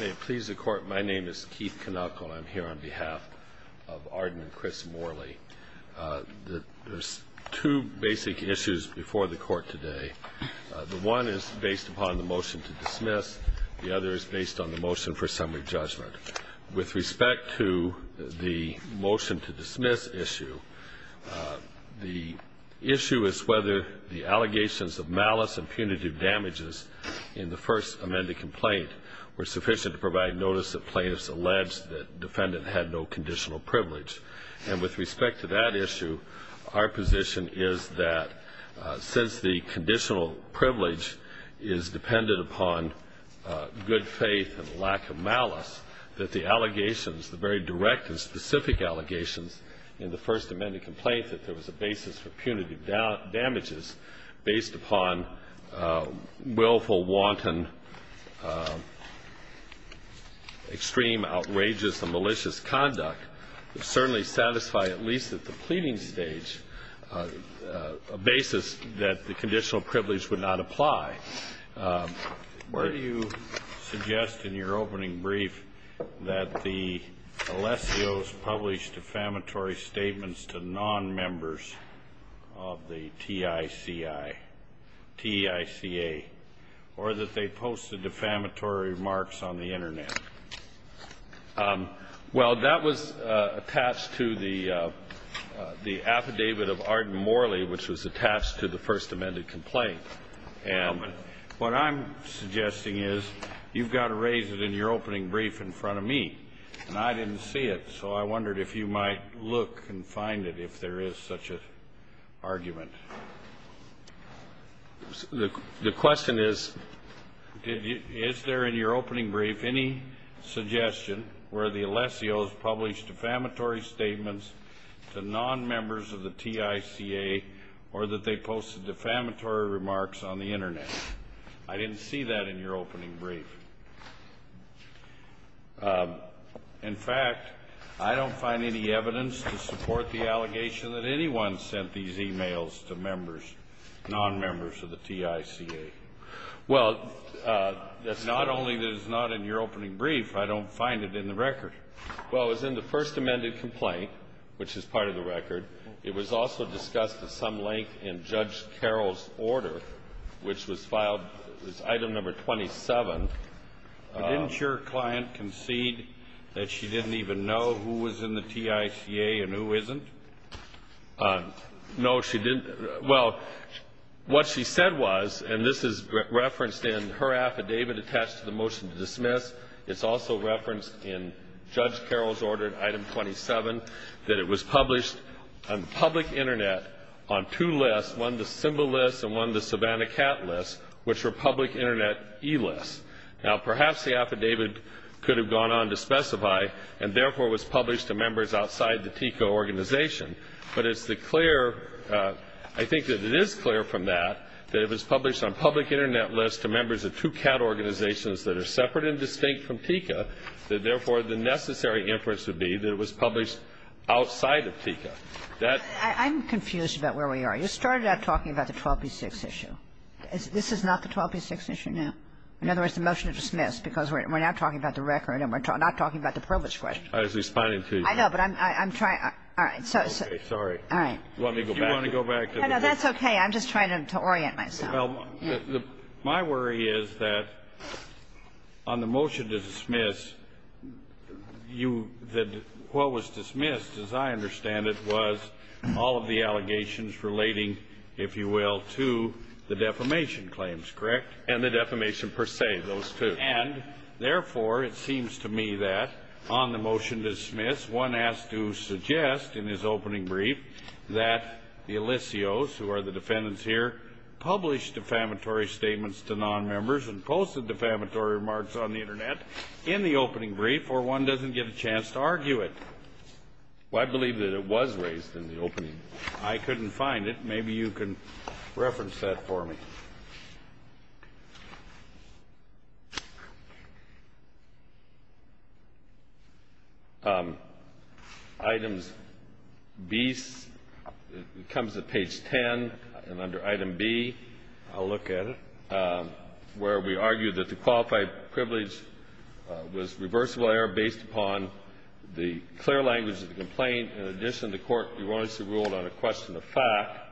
May it please the Court, my name is Keith Canuck and I'm here on behalf of Arden and Chris Morley. There's two basic issues before the Court today. The one is based upon the motion to dismiss. The other is based on the motion for summary judgment. With respect to the motion to dismiss issue, the issue is whether the allegations of malice and punitive damages in the first amended complaint were sufficient to provide notice that plaintiffs alleged that defendant had no conditional privilege. And with respect to that issue, our position is that since the conditional privilege is dependent upon good faith and lack of malice, that the allegations, the very direct and specific allegations in the first amended complaint that there was a basis for punitive damages based upon willful, wanton, extreme, outrageous and malicious conduct would certainly satisfy at least at the pleading stage a basis that the conditional privilege would not apply. Why do you suggest in your opening brief that the Alessios published defamatory statements to non-members of the TICI, TICA, or that they posted defamatory remarks on the Internet? Well, that was attached to the affidavit of Arden Morley, which was attached to the first amended complaint. And what I'm suggesting is you've got to raise it in your opening brief in front of me, and I didn't see it, so I wondered if you might look and find it if there is such an argument. The question is, is there in your opening brief any suggestion where the Alessios published defamatory statements to non-members of the TICA or that they posted defamatory remarks on the Internet? I didn't see that in your opening brief. In fact, I don't find any evidence to support the allegation that anyone sent these e-mails to members, non-members of the TICA. Well, that's not only that it's not in your opening brief, I don't find it in the record. Well, it was in the first amended complaint, which is part of the record. It was also discussed at some length in Judge Carroll's order, which was filed as item number 27. Didn't your client concede that she didn't even know who was in the TICA and who isn't? No, she didn't. Well, what she said was, and this is referenced in her affidavit attached to the motion to dismiss. It's also referenced in Judge Carroll's order, item 27, that it was published on public Internet on two lists, one the Simba list and one the Savannah Cat list, which were public Internet e-lists. Now, perhaps the affidavit could have gone on to specify and, therefore, was published to members outside the TICA organization. But it's the clear, I think that it is clear from that, that it was published on public Internet lists to members of two cat organizations that are separate and distinct from TICA, that, therefore, the necessary inference would be that it was published outside of TICA. I'm confused about where we are. You started out talking about the 12B6 issue. This is not the 12B6 issue? No. In other words, the motion is dismissed because we're now talking about the record and we're not talking about the probate's question. I was responding to you. I know, but I'm trying. All right. Sorry. All right. Do you want to go back? No, that's okay. I'm just trying to orient myself. Well, my worry is that on the motion to dismiss, what was dismissed, as I understand it, was all of the allegations relating, if you will, to the defamation claims, correct? And the defamation per se, those two. And, therefore, it seems to me that on the motion to dismiss, one has to suggest in his opening brief that the Alicios, who are the defendants here, published defamatory statements to nonmembers and posted defamatory remarks on the Internet in the opening brief or one doesn't get a chance to argue it. Well, I believe that it was raised in the opening. I couldn't find it. Maybe you can reference that for me. Items B comes at page 10. And under item B, I'll look at it, where we argue that the qualified privilege was reversible error based upon the clear language of the complaint. And I think in addition, the Court erroneously ruled on a question of fact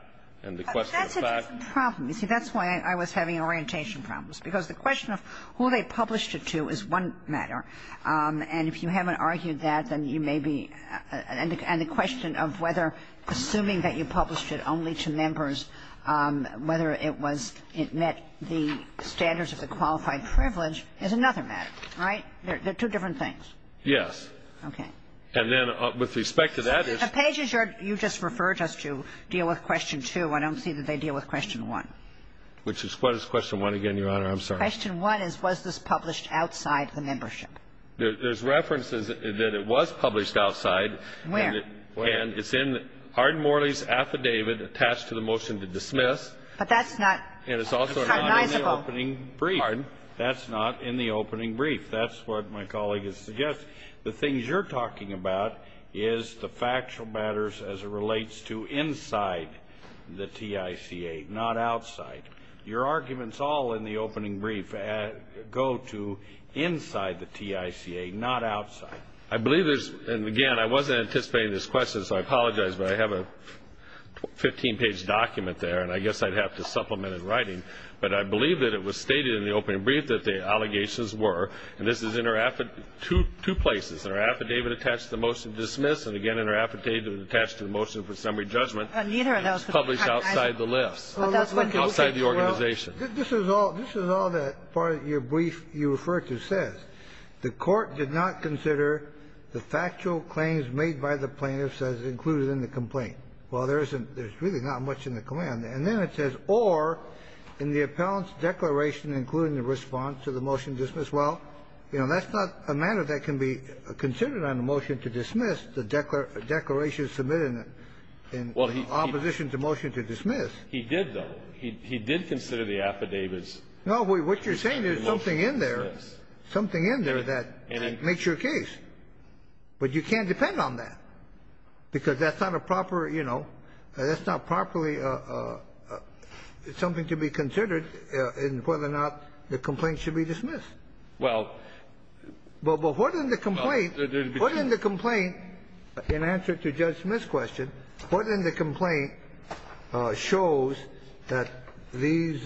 and the question of fact. But that's a different problem. You see, that's why I was having orientation problems, because the question of who they published it to is one matter. And if you haven't argued that, then you may be and the question of whether assuming that you published it only to members, whether it was, it met the standards of the qualified privilege is another matter, right? They're two different things. Yes. Okay. And then with respect to that issue ---- The pages you just referred us to deal with question 2. I don't see that they deal with question 1. Which is what is question 1 again, Your Honor? I'm sorry. Question 1 is, was this published outside the membership? There's references that it was published outside. Where? And it's in Arden-Morley's affidavit attached to the motion to dismiss. But that's not ---- And it's also not in the opening brief. Pardon? That's not in the opening brief. That's what my colleague has suggested. The things you're talking about is the factual matters as it relates to inside the TICA, not outside. Your arguments all in the opening brief go to inside the TICA, not outside. I believe there's ---- And, again, I wasn't anticipating this question, so I apologize. But I have a 15-page document there, and I guess I'd have to supplement in writing. But I believe that it was stated in the opening brief that the allegations were, and this is in her affidavit, two places. In her affidavit attached to the motion to dismiss, and, again, in her affidavit attached to the motion for summary judgment, it was published outside the list. Outside the organization. This is all that part of your brief you refer to says. The Court did not consider the factual claims made by the plaintiffs as included in the complaint. Well, there isn't ---- there's really not much in the command. And then it says, or, in the appellant's declaration including the response to the motion to dismiss, well, you know, that's not a matter that can be considered on a motion to dismiss, the declaration submitted in opposition to motion to dismiss. He did, though. He did consider the affidavits. No, what you're saying is something in there, something in there that makes your case. But you can't depend on that, because that's not a proper, you know, that's not properly something to be considered in whether or not the complaint should be dismissed. Well. But what in the complaint, what in the complaint, in answer to Judge Smith's question, what in the complaint shows that these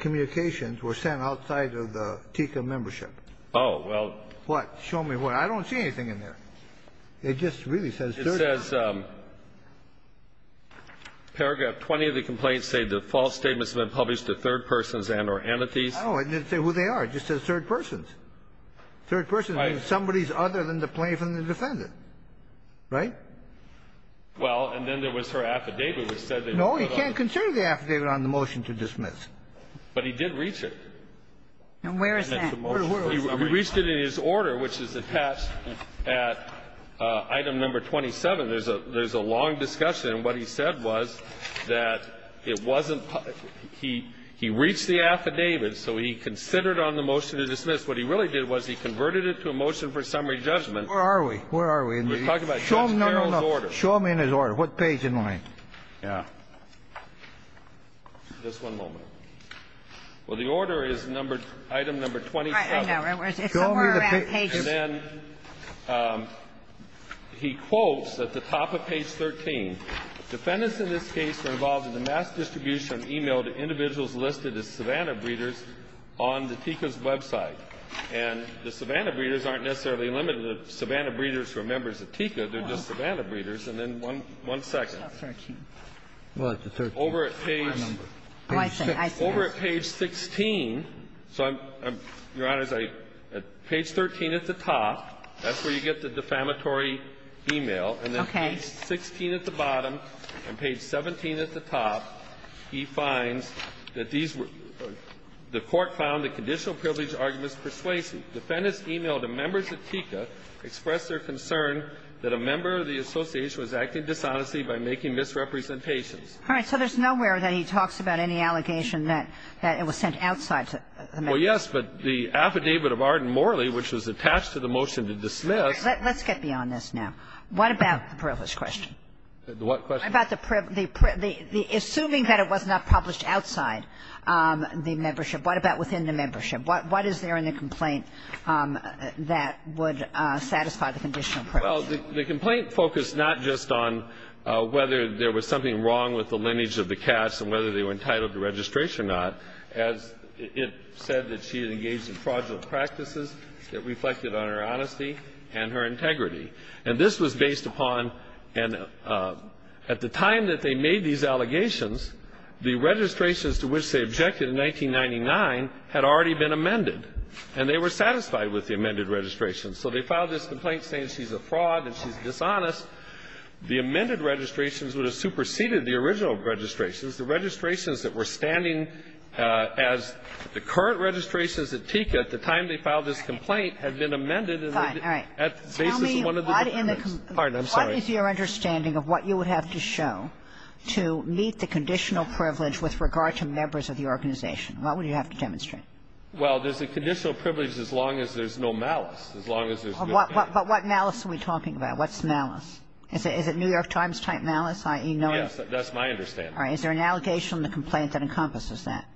communications were sent outside of the TICA membership? Oh, well. What? Show me what? I don't see anything in there. It just really says third person. It says paragraph 20 of the complaint say the false statements have been published to third persons and or entities. Oh, and it didn't say who they are. It just says third persons. Third persons means somebody other than the plaintiff and the defendant. Right? Well, and then there was her affidavit which said they were brought up. No, you can't consider the affidavit on the motion to dismiss. But he did reach it. And where is that? He reached it in his order, which is attached at item number 27. There's a long discussion, and what he said was that it wasn't published. He reached the affidavit, so he considered on the motion to dismiss. What he really did was he converted it to a motion for summary judgment. Where are we? Where are we? We're talking about Judge Carroll's order. No, no, no. Show me in his order. What page am I on? Yeah. Just one moment. Well, the order is number — item number 27. Right. I know. It's somewhere around page — And then he quotes at the top of page 13, Defendants in this case were involved in the mass distribution of e-mail to individuals listed as Savannah breeders on the TICA's website. And the Savannah breeders aren't necessarily limited to Savannah breeders who are members of TICA. They're just Savannah breeders. And then one second. 13. Well, it's the 13th. I remember. Oh, I see. I see. Over at page 16, so I'm — Your Honor, it's page 13 at the top. That's where you get the defamatory e-mail. Okay. And then page 16 at the bottom and page 17 at the top, he finds that these were — the Court found the conditional privilege arguments persuasive. Defendants e-mailed to members of TICA, expressed their concern that a member of the association was acting dishonestly by making misrepresentations. All right. So there's nowhere that he talks about any allegation that it was sent outside the membership. Well, yes, but the affidavit of Arden-Morley, which was attached to the motion to dismiss — Let's get beyond this now. What about the privilege question? What question? What about the — assuming that it was not published outside the membership, what about within the membership? What is there in the complaint that would satisfy the conditional privilege? Well, the complaint focused not just on whether there was something wrong with the lineage of the Katz and whether they were entitled to registration or not, as it said that she had engaged in fraudulent practices that reflected on her honesty and her integrity. And this was based upon — and at the time that they made these allegations, the registrations to which they objected in 1999 had already been amended, and they were satisfied with the amended registrations. So they filed this complaint saying she's a fraud and she's dishonest. The amended registrations would have superseded the original registrations. The registrations that were standing as the current registrations at TICA at the time they filed this complaint had been amended in the — Fine. All right. Tell me what in the — Pardon. I'm sorry. What is your understanding of what you would have to show to meet the conditional privilege with regard to members of the organization? What would you have to demonstrate? Well, there's a conditional privilege as long as there's no malice, as long as there's no — But what malice are we talking about? What's malice? Is it New York Times-type malice, i.e. no — Yes, that's my understanding. All right. Is there an allegation in the complaint that encompasses that?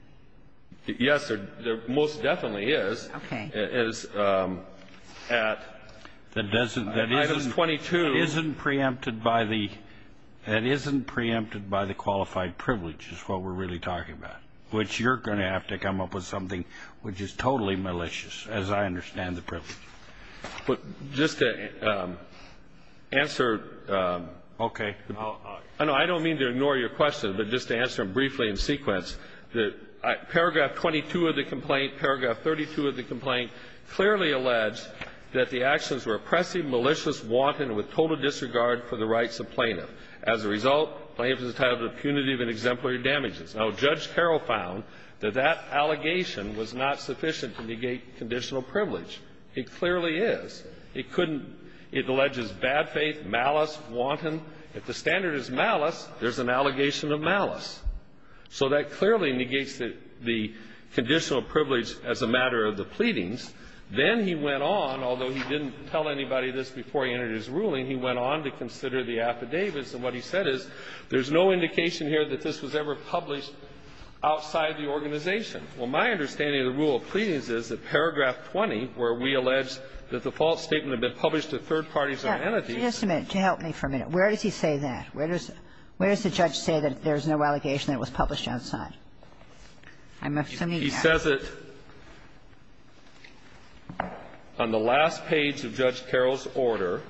Yes, there most definitely is. Okay. It is at — That doesn't — Items 22 — That isn't preempted by the — that isn't preempted by the qualified privilege is what we're really talking about, which you're going to have to come up with something which is totally malicious, as I understand the privilege. But just to answer — Okay. No, I don't mean to ignore your question, but just to answer them briefly in sequence, paragraph 22 of the complaint, paragraph 32 of the complaint clearly allege that the actions were oppressive, malicious, wanton, and with total disregard for the rights of plaintiff. As a result, plaintiff is entitled to punitive and exemplary damages. Now, Judge Carroll found that that allegation was not sufficient to negate conditional privilege. It clearly is. It couldn't — it alleges bad faith, malice, wanton. If the standard is malice, there's an allegation of malice. So that clearly negates the — the conditional privilege as a matter of the pleadings. Then he went on, although he didn't tell anybody this before he entered his ruling, he went on to consider the affidavits. And what he said is, there's no indication here that this was ever published outside the organization. Well, my understanding of the rule of pleadings is that paragraph 20, where we allege that the false statement had been published to third parties or entities. Yeah. Just a minute. Just help me for a minute. Where does he say that? Where does the judge say that there's no allegation that it was published outside? I'm assuming that. He says it on the last page of Judge Carroll's order.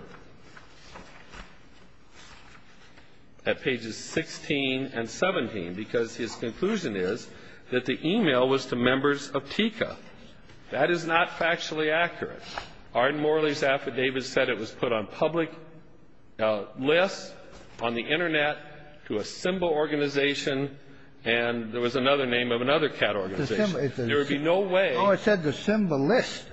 At pages 16 and 17, because his conclusion is that the e-mail was to members of TICA. That is not factually accurate. Arden Morley's affidavit said it was put on public lists, on the Internet, to a SIMBA organization, and there was another name of another CAT organization. There would be no way — No, it said the SIMBA list.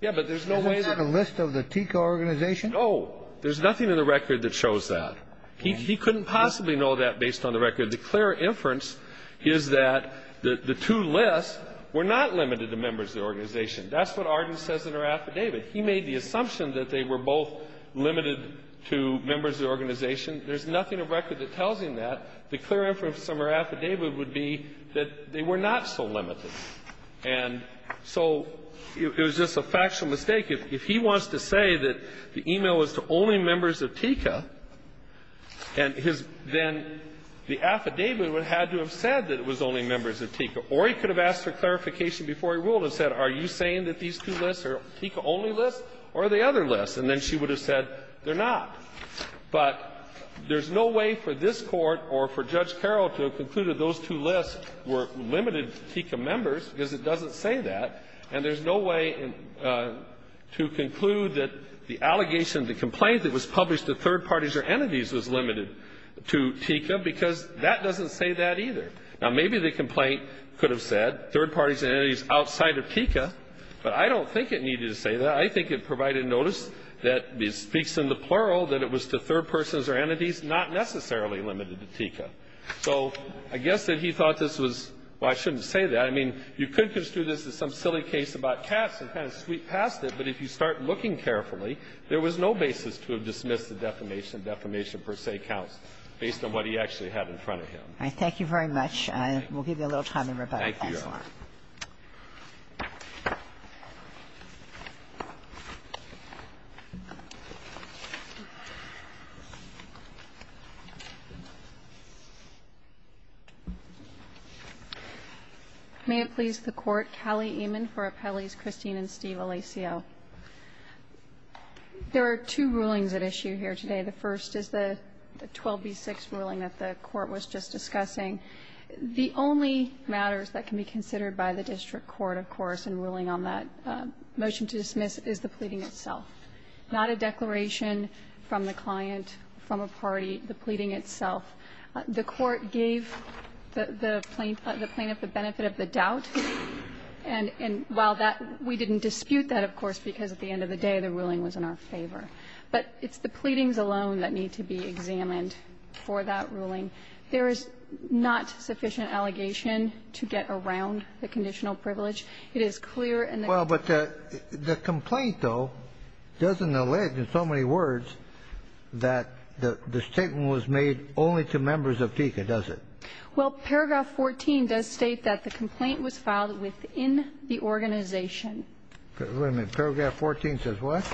Yeah, but there's no way that — Isn't that a list of the TICA organization? No. There's nothing in the record that shows that. He couldn't possibly know that based on the record. The clear inference is that the two lists were not limited to members of the organization. That's what Arden says in her affidavit. He made the assumption that they were both limited to members of the organization. There's nothing in the record that tells him that. The clear inference from her affidavit would be that they were not so limited. And so it was just a factual mistake. If he wants to say that the e-mail was to only members of TICA, and his — then the affidavit would have had to have said that it was only members of TICA. Or he could have asked for clarification before he ruled and said, are you saying that these two lists are TICA-only lists or are they other lists, and then she would have said they're not. But there's no way for this Court or for Judge Carroll to have concluded those two say that. And there's no way to conclude that the allegation, the complaint that was published to third parties or entities was limited to TICA because that doesn't say that either. Now, maybe the complaint could have said third parties and entities outside of TICA, but I don't think it needed to say that. I think it provided notice that it speaks in the plural that it was to third persons or entities, not necessarily limited to TICA. So I guess that he thought this was — well, I shouldn't say that. I mean, you could construe this as some silly case about Cass and kind of sweep past it, but if you start looking carefully, there was no basis to have dismissed the defamation, defamation per se counts, based on what he actually had in front of him. Kagan. Thank you very much. We'll give you a little time to rebut. Thank you, Your Honor. May it please the Court. Kali Eman for Appellees Christine and Steve Alicio. There are two rulings at issue here today. The first is the 12b-6 ruling that the Court was just discussing. The only matters that can be considered by the district court, of course, in ruling on that motion to dismiss is the pleading itself, not a declaration from the client, from a party, the pleading itself. The Court gave the plaintiff the benefit of the doubt, and while that — we didn't dispute that, of course, because at the end of the day the ruling was in our favor. But it's the pleadings alone that need to be examined for that ruling. There is not sufficient allegation to get around the conditional privilege. It is clear in the — Well, but the complaint, though, doesn't allege in so many words that the statement was made only to members of PICA, does it? Well, paragraph 14 does state that the complaint was filed within the organization. Wait a minute. Paragraph 14 says what?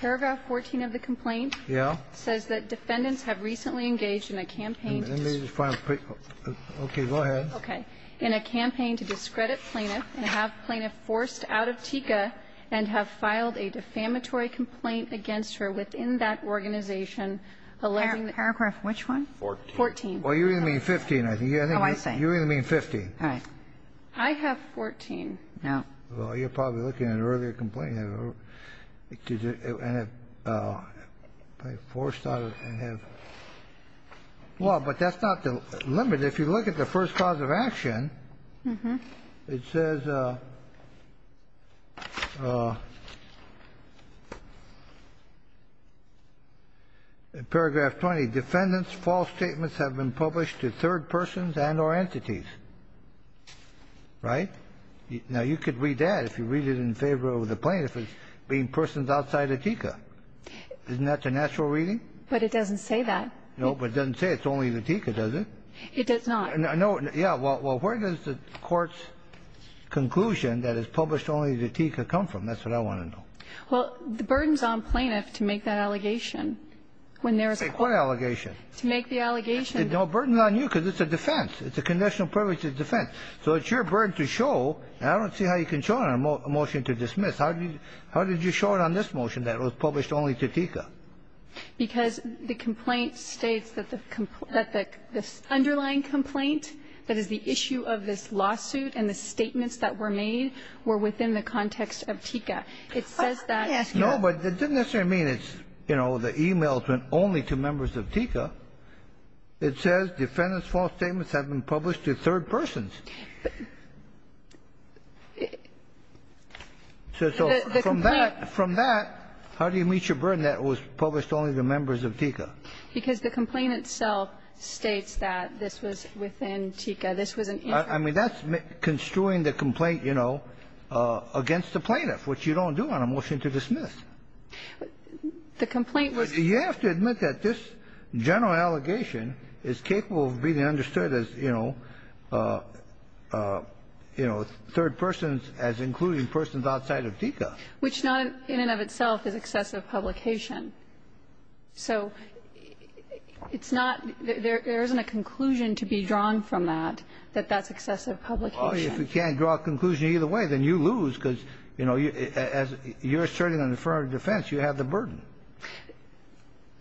Paragraph 14 of the complaint — Yeah. It says that defendants have recently engaged in a campaign to — Okay. Go ahead. Okay. In a campaign to discredit plaintiff and have plaintiff forced out of PICA and have filed a defamatory complaint against her within that organization alleging — Paragraph which one? Fourteen. Fourteen. Well, you're going to mean 15, I think. Oh, I see. You're going to mean 15. All right. I have 14. No. Well, you're probably looking at an earlier complaint and have forced out and have — Well, but that's not the limit. If you look at the first cause of action, it says in paragraph 20, defendants' false statements have been published to third persons and or entities. Right? Now, you could read that if you read it in favor of the plaintiff as being persons outside of PICA. Isn't that the natural reading? But it doesn't say that. No, but it doesn't say it's only the PICA, does it? It does not. No. Yeah. Well, where does the Court's conclusion that it's published only to PICA come from? That's what I want to know. Well, the burden's on plaintiff to make that allegation when there is — Say what allegation? To make the allegation — No, the burden's on you because it's a defense. It's a conditional privilege of defense. So it's your burden to show, and I don't see how you can show it on a motion to dismiss. How did you show it on this motion that it was published only to PICA? Because the complaint states that the underlying complaint, that is, the issue of this lawsuit and the statements that were made, were within the context of PICA. It says that — Let me ask you — No, but it doesn't necessarily mean it's, you know, the e-mails went only to members of PICA. It says defendants' false statements have been published to third persons. So from that — The complaint — From that, how do you meet your burden that it was published only to members of PICA? Because the complaint itself states that this was within PICA. This was an — I mean, that's construing the complaint, you know, against the plaintiff, which you don't do on a motion to dismiss. The complaint was — You have to admit that this general allegation is capable of being understood as, you know, third persons as including persons outside of PICA. Which not in and of itself is excessive publication. So it's not — there isn't a conclusion to be drawn from that, that that's excessive publication. Well, if you can't draw a conclusion either way, then you lose, because, you know, as you're asserting an affirmative defense, you have the burden.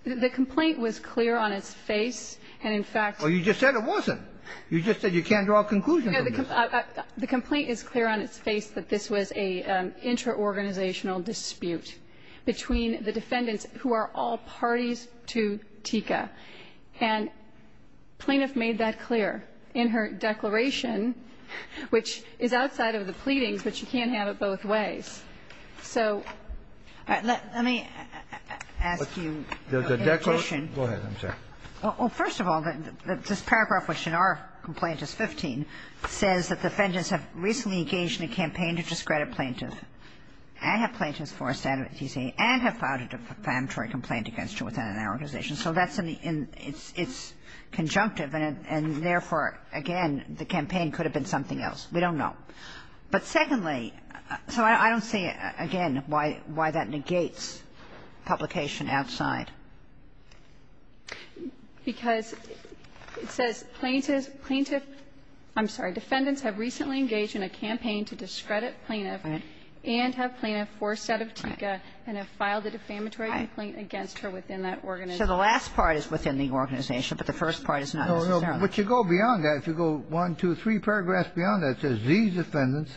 The complaint was clear on its face, and in fact — Well, you just said it wasn't. You just said you can't draw a conclusion from this. The complaint is clear on its face that this was an intraorganizational dispute between the defendants who are all parties to TICA. And plaintiff made that clear in her declaration, which is outside of the pleadings, but you can't have it both ways. So — All right. Let me ask you a question. Go ahead. I'm sorry. Well, first of all, this paragraph, which in our complaint is 15, says that the defendants have recently engaged in a campaign to discredit plaintiffs and have plaintiffs forced out of TICA and have filed a defamatory complaint against you within an organization. So that's in the — it's conjunctive, and therefore, again, the campaign could have been something else. We don't know. But secondly, so I don't see, again, why that negates publication outside. Because it says plaintiff — plaintiff — I'm sorry, defendants have recently engaged in a campaign to discredit plaintiffs and have plaintiffs forced out of TICA and have filed a defamatory complaint against her within that organization. So the last part is within the organization, but the first part is not necessarily. But you go beyond that. If you go one, two, three paragraphs beyond that, it says these defendants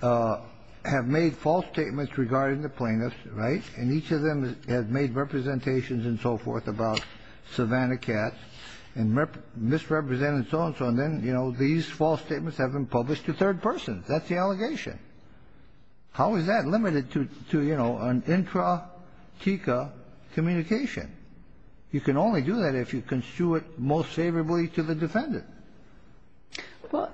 have made false statements regarding the plaintiffs. Right? And each of them has made representations and so forth about Savannah Katz and misrepresented so-and-so. And then, you know, these false statements have been published to third persons. That's the allegation. How is that limited to, you know, an intra-TICA communication? You can only do that if you construe it most favorably to the defendant. Well,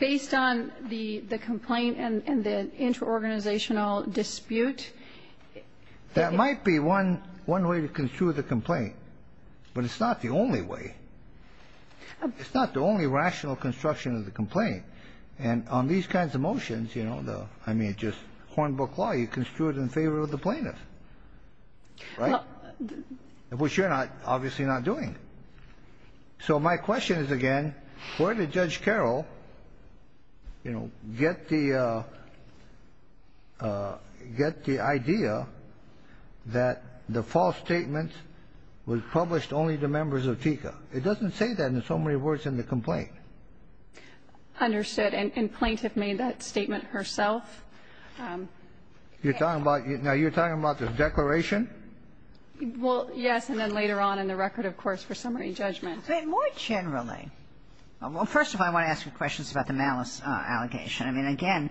based on the complaint and the interorganizational dispute — That might be one way to construe the complaint. But it's not the only way. It's not the only rational construction of the complaint. And on these kinds of motions, you know, the — I mean, just Hornbook law, you construe it in favor of the plaintiff. Right? Which you're not — obviously not doing. So my question is, again, where did Judge Carroll, you know, get the — get the idea that the false statement was published only to members of TICA? It doesn't say that in so many words in the complaint. Understood. And plaintiff made that statement herself. You're talking about — now, you're talking about the declaration? Well, yes, and then later on in the record, of course, for summary judgment. But more generally — well, first of all, I want to ask you questions about the malice allegation. I mean, again,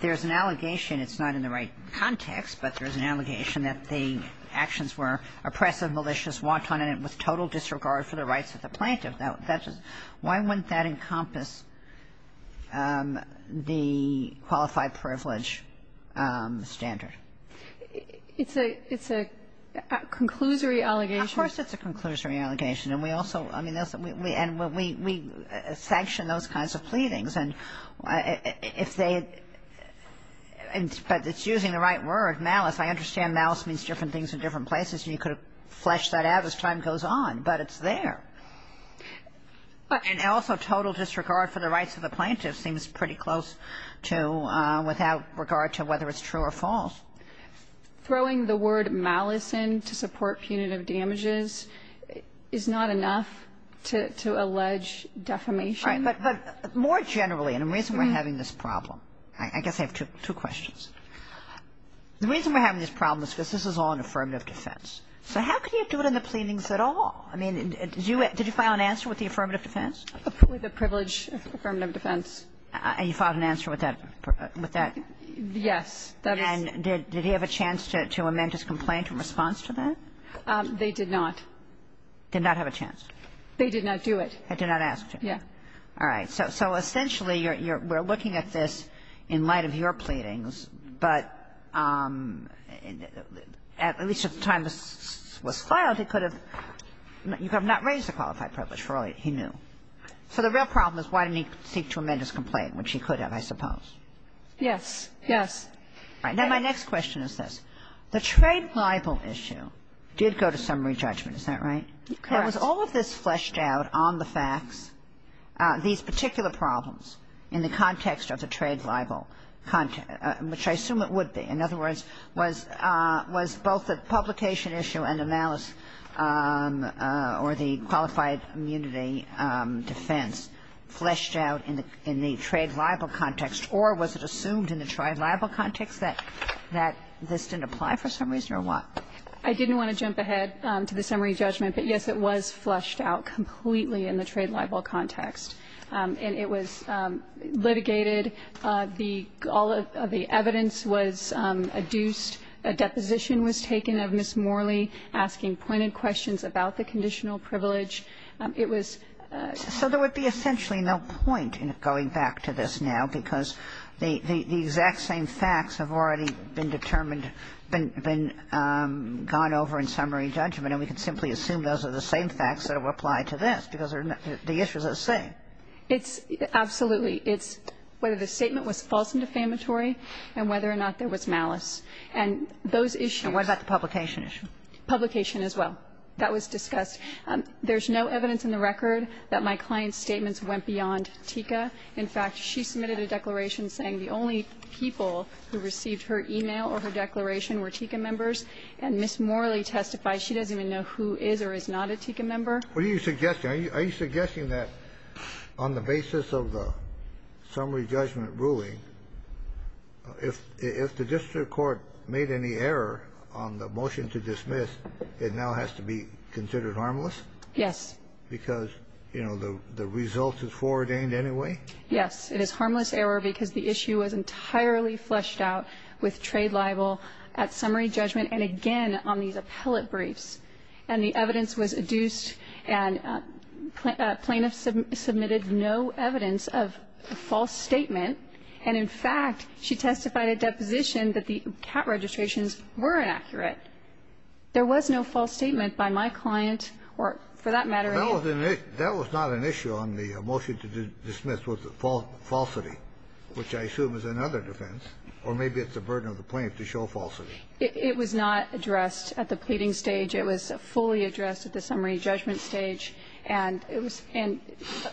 there's an allegation. It's not in the right context, but there's an allegation that the actions were oppressive, malicious, wanton, and with total disregard for the rights of the plaintiff. Why wouldn't that encompass the qualified privilege standard? It's a — it's a conclusory allegation. Of course it's a conclusory allegation. And we also — I mean, and we sanction those kinds of pleadings. And if they — but it's using the right word, malice. I understand malice means different things in different places, and you could have fleshed that out as time goes on. But it's there. And also total disregard for the rights of the plaintiff seems pretty close to without regard to whether it's true or false. Throwing the word malice in to support punitive damages is not enough to allege defamation? Right. But more generally, and the reason we're having this problem — I guess I have two questions. The reason we're having this problem is because this is all an affirmative defense. So how can you do it in the pleadings at all? I mean, did you file an answer with the affirmative defense? With the privilege affirmative defense. And you filed an answer with that — with that? Yes. And did he have a chance to amend his complaint in response to that? They did not. Did not have a chance? They did not do it. They did not ask to? Yeah. All right. So essentially, you're — we're looking at this in light of your pleadings, but at least at the time this was filed, he could have not raised the qualified privilege for all he knew. So the real problem is why didn't he seek to amend his complaint, which he could have, I suppose. Yes. Yes. All right. Now, my next question is this. The trade libel issue did go to summary judgment. Is that right? Correct. Now, was all of this fleshed out on the facts, these particular problems in the context of the trade libel, which I assume it would be? In other words, was both the publication issue and the malice or the qualified immunity defense fleshed out in the trade libel context, or was it assumed in the trade libel context that this didn't apply for some reason, or what? I didn't want to jump ahead to the summary judgment, but, yes, it was fleshed out completely in the trade libel context. And it was litigated. The all of the evidence was adduced. A deposition was taken of Ms. Morley, asking pointed questions about the conditional privilege. It was ---- So there would be essentially no point in going back to this now, because the exact same facts have already been determined, been gone over in summary judgment, and we can simply assume those are the same facts that apply to this, because the issues are the same. It's ---- absolutely. It's whether the statement was false and defamatory and whether or not there was malice. And those issues ---- And what about the publication issue? Publication as well. That was discussed. There's no evidence in the record that my client's statements went beyond TICA. In fact, she submitted a declaration saying the only people who received her e-mail or her declaration were TICA members. And Ms. Morley testified she doesn't even know who is or is not a TICA member. What are you suggesting? Are you suggesting that on the basis of the summary judgment ruling, if the district court made any error on the motion to dismiss, it now has to be considered harmless? Yes. Because, you know, the result is foreordained anyway? Yes. It is harmless error because the issue was entirely fleshed out with trade libel at summary judgment, and again on these appellate briefs. And the evidence was adduced and plaintiffs submitted no evidence of a false statement. And in fact, she testified at deposition that the cat registrations were inaccurate. There was no false statement by my client or, for that matter, any. That was not an issue on the motion to dismiss was the falsity, which I assume is another defense, or maybe it's the burden of the plaintiff to show falsity. It was not addressed at the pleading stage. It was fully addressed at the summary judgment stage. And as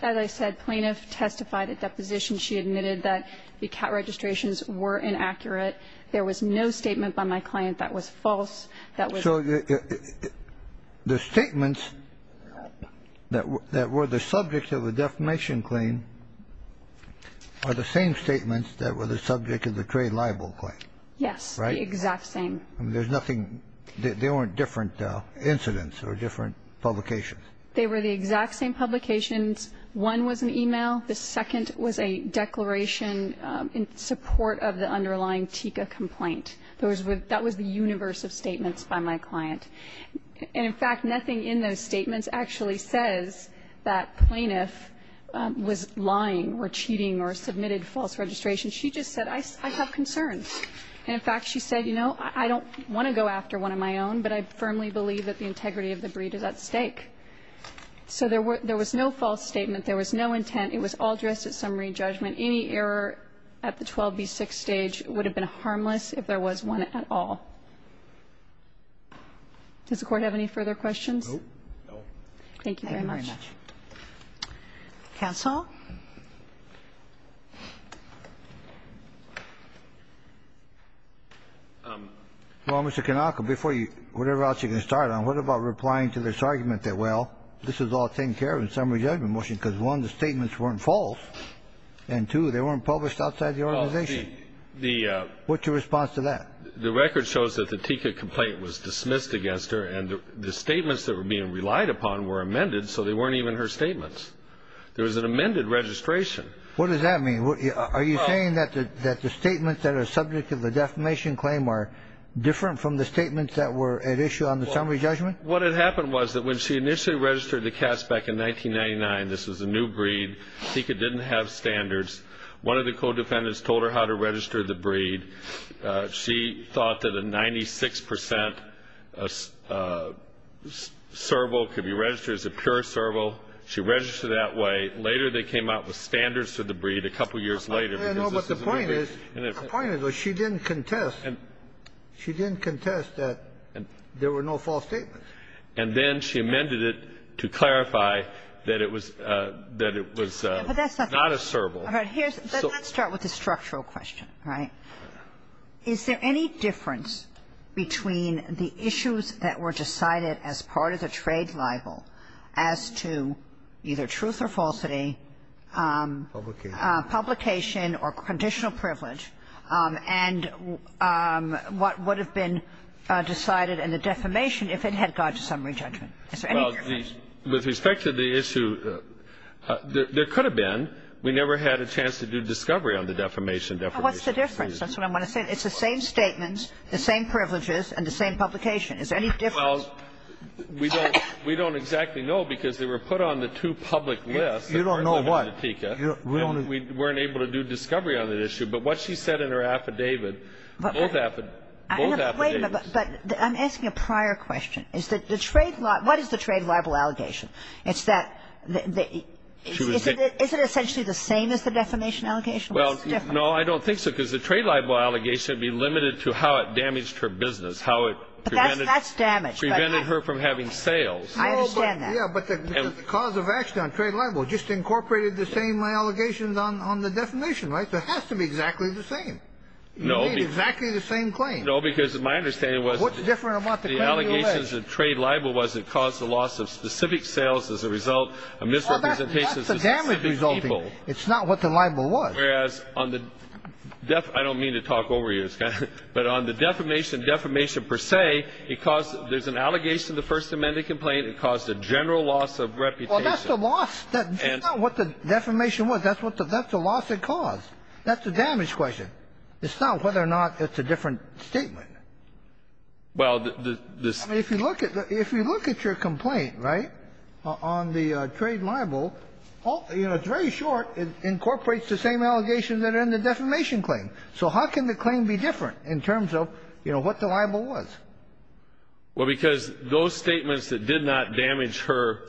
I said, plaintiff testified at deposition. She admitted that the cat registrations were inaccurate. There was no statement by my client that was false, that was. So the statements that were the subject of the defamation claim are the same statements that were the subject of the trade libel claim. Yes. The exact same. There's nothing they weren't different incidents or different publications. They were the exact same publications. One was an e-mail. The second was a declaration in support of the underlying TICA complaint. Those were that was the universe of statements by my client. And in fact, nothing in those statements actually says that plaintiff was lying or cheating or submitted false registration. She just said, I have concerns. And in fact, she said, you know, I don't want to go after one of my own, but I firmly believe that the integrity of the breed is at stake. So there was no false statement. There was no intent. It was all addressed at summary judgment. Any error at the 12b6 stage would have been harmless if there was one at all. Does the Court have any further questions? No. Thank you very much. Counsel. Well, Mr. Kanaka, before you, whatever else you're going to start on, what about replying to this argument that, well, this is all taken care of in summary judgment motion, because, one, the statements weren't false, and, two, they weren't published outside the organization. What's your response to that? The record shows that the TICA complaint was dismissed against her, and the statements that were being relied upon were amended, so they weren't even her statements. There was an amended registration. What does that mean? Are you saying that the statements that are subject to the defamation claim are different from the statements that were at issue on the summary judgment? Well, what had happened was that when she initially registered the cats back in 1999, this was a new breed, TICA didn't have standards. She thought that a 96 percent serval could be registered as a pure serval. She registered that way. Later, they came out with standards for the breed a couple years later because this is a new breed. No, but the point is, the point is that she didn't contest. She didn't contest that there were no false statements. And then she amended it to clarify that it was not a serval. All right. Let's start with the structural question, all right? Is there any difference between the issues that were decided as part of the trade libel as to either truth or falsity, publication or conditional privilege, and what would have been decided in the defamation if it had gone to summary judgment? Is there any difference? Well, with respect to the issue, there could have been. We never had a chance to do discovery on the defamation. What's the difference? That's what I want to say. It's the same statements, the same privileges and the same publication. Is there any difference? Well, we don't exactly know because they were put on the two public lists. You don't know what? We weren't able to do discovery on that issue. But what she said in her affidavit, both affidavits. Wait a minute. But I'm asking a prior question. What is the trade libel allegation? Is it essentially the same as the defamation allegation? Well, no, I don't think so because the trade libel allegation would be limited to how it damaged her business, how it prevented her from having sales. I understand that. Yeah, but the cause of action on trade libel just incorporated the same allegations on the defamation, right? So it has to be exactly the same. No. You made exactly the same claim. No, because my understanding was the allegations of trade libel was it caused the loss of specific sales as a result of misrepresentations of specific people. Well, that's the damage resulting. It's not what the libel was. Whereas on the def – I don't mean to talk over you, but on the defamation, defamation per se, it caused – there's an allegation in the First Amendment complaint, it caused a general loss of reputation. Well, that's the loss. That's not what the defamation was. That's the loss it caused. That's the damage question. It's not whether or not it's a different statement. Well, the – this – If you look at – if you look at your complaint, right, on the trade libel, you know, it's very short. It incorporates the same allegations that are in the defamation claim. So how can the claim be different in terms of, you know, what the libel was? Well, because those statements that did not damage her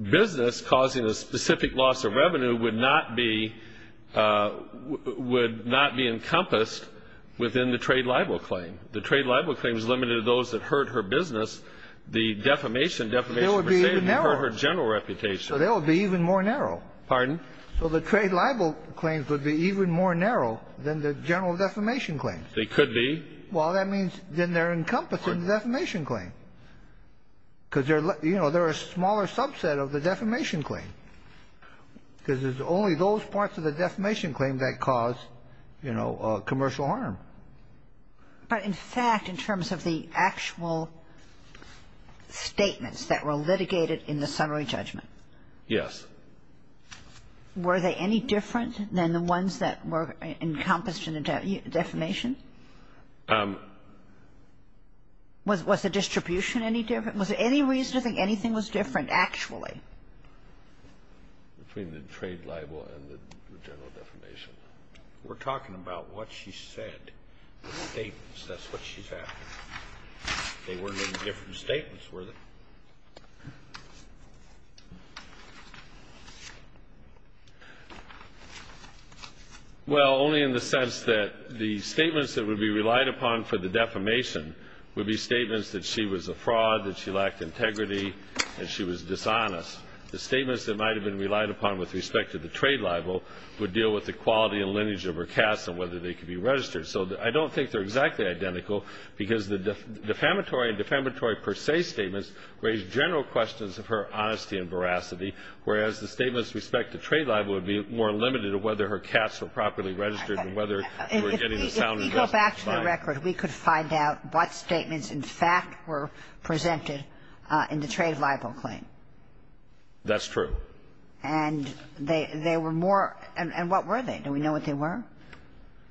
business causing a specific loss of revenue would not be – would not be encompassed within the trade libel claim. The trade libel claim is limited to those that hurt her business. The defamation, defamation per se, would hurt her general reputation. So they would be even more narrow. Pardon? So the trade libel claims would be even more narrow than the general defamation claims. They could be. Well, that means then they're encompassing the defamation claim. Because they're – you know, they're a smaller subset of the defamation claim, because it's only those parts of the defamation claim that cause, you know, commercial harm. But in fact, in terms of the actual statements that were litigated in the summary judgment? Yes. Were they any different than the ones that were encompassed in the defamation? Was the distribution any different? Was there any reason to think anything was different actually? Between the trade libel and the general defamation. We're talking about what she said, the statements. That's what she said. They weren't any different statements, were they? Well, only in the sense that the statements that would be relied upon for the defamation would be statements that she was a fraud, that she lacked integrity, and she was dishonest. The statements that might have been relied upon with respect to the trade libel would deal with the quality and lineage of her cats and whether they could be registered. So I don't think they're exactly identical, because the defamatory and defamatory per se statements raise general questions of her honesty and veracity, whereas the statements with respect to trade libel would be more limited to whether her cats were properly registered and whether we're getting the sound investment. If we go back to the record, we could find out what statements in fact were presented in the trade libel claim. That's true. And they were more – and what were they? Do we know what they were?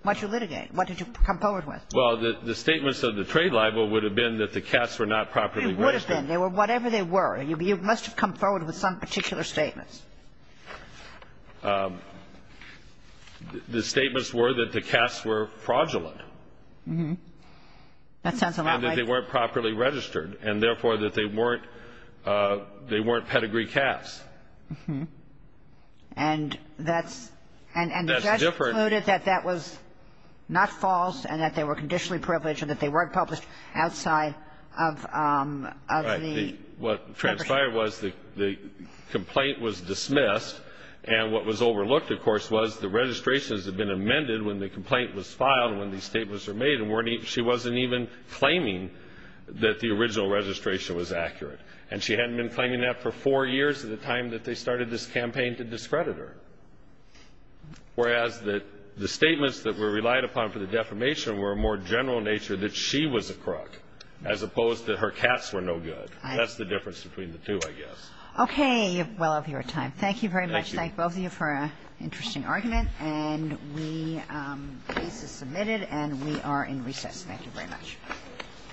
What did you litigate? What did you come forward with? Well, the statements of the trade libel would have been that the cats were not properly registered. They would have been. They were whatever they were. You must have come forward with some particular statements. The statements were that the cats were fraudulent. That sounds a lot like – And that they weren't properly registered and, therefore, that they weren't pedigree cats. And that's – That's different. And the judge concluded that that was not false and that they were conditionally privileged and that they weren't published outside of the – Right. What transpired was the complaint was dismissed, and what was overlooked, of course, was the registrations had been amended when the complaint was filed and she wasn't even claiming that the original registration was accurate. And she hadn't been claiming that for four years at the time that they started this campaign to discredit her, whereas the statements that were relied upon for the defamation were more general in nature that she was a crook as opposed to her cats were no good. That's the difference between the two, I guess. Okay. Well, I'll give you time. Thank you very much. Thank both of you for an interesting argument. And we – the case is submitted and we are in recess. Thank you very much.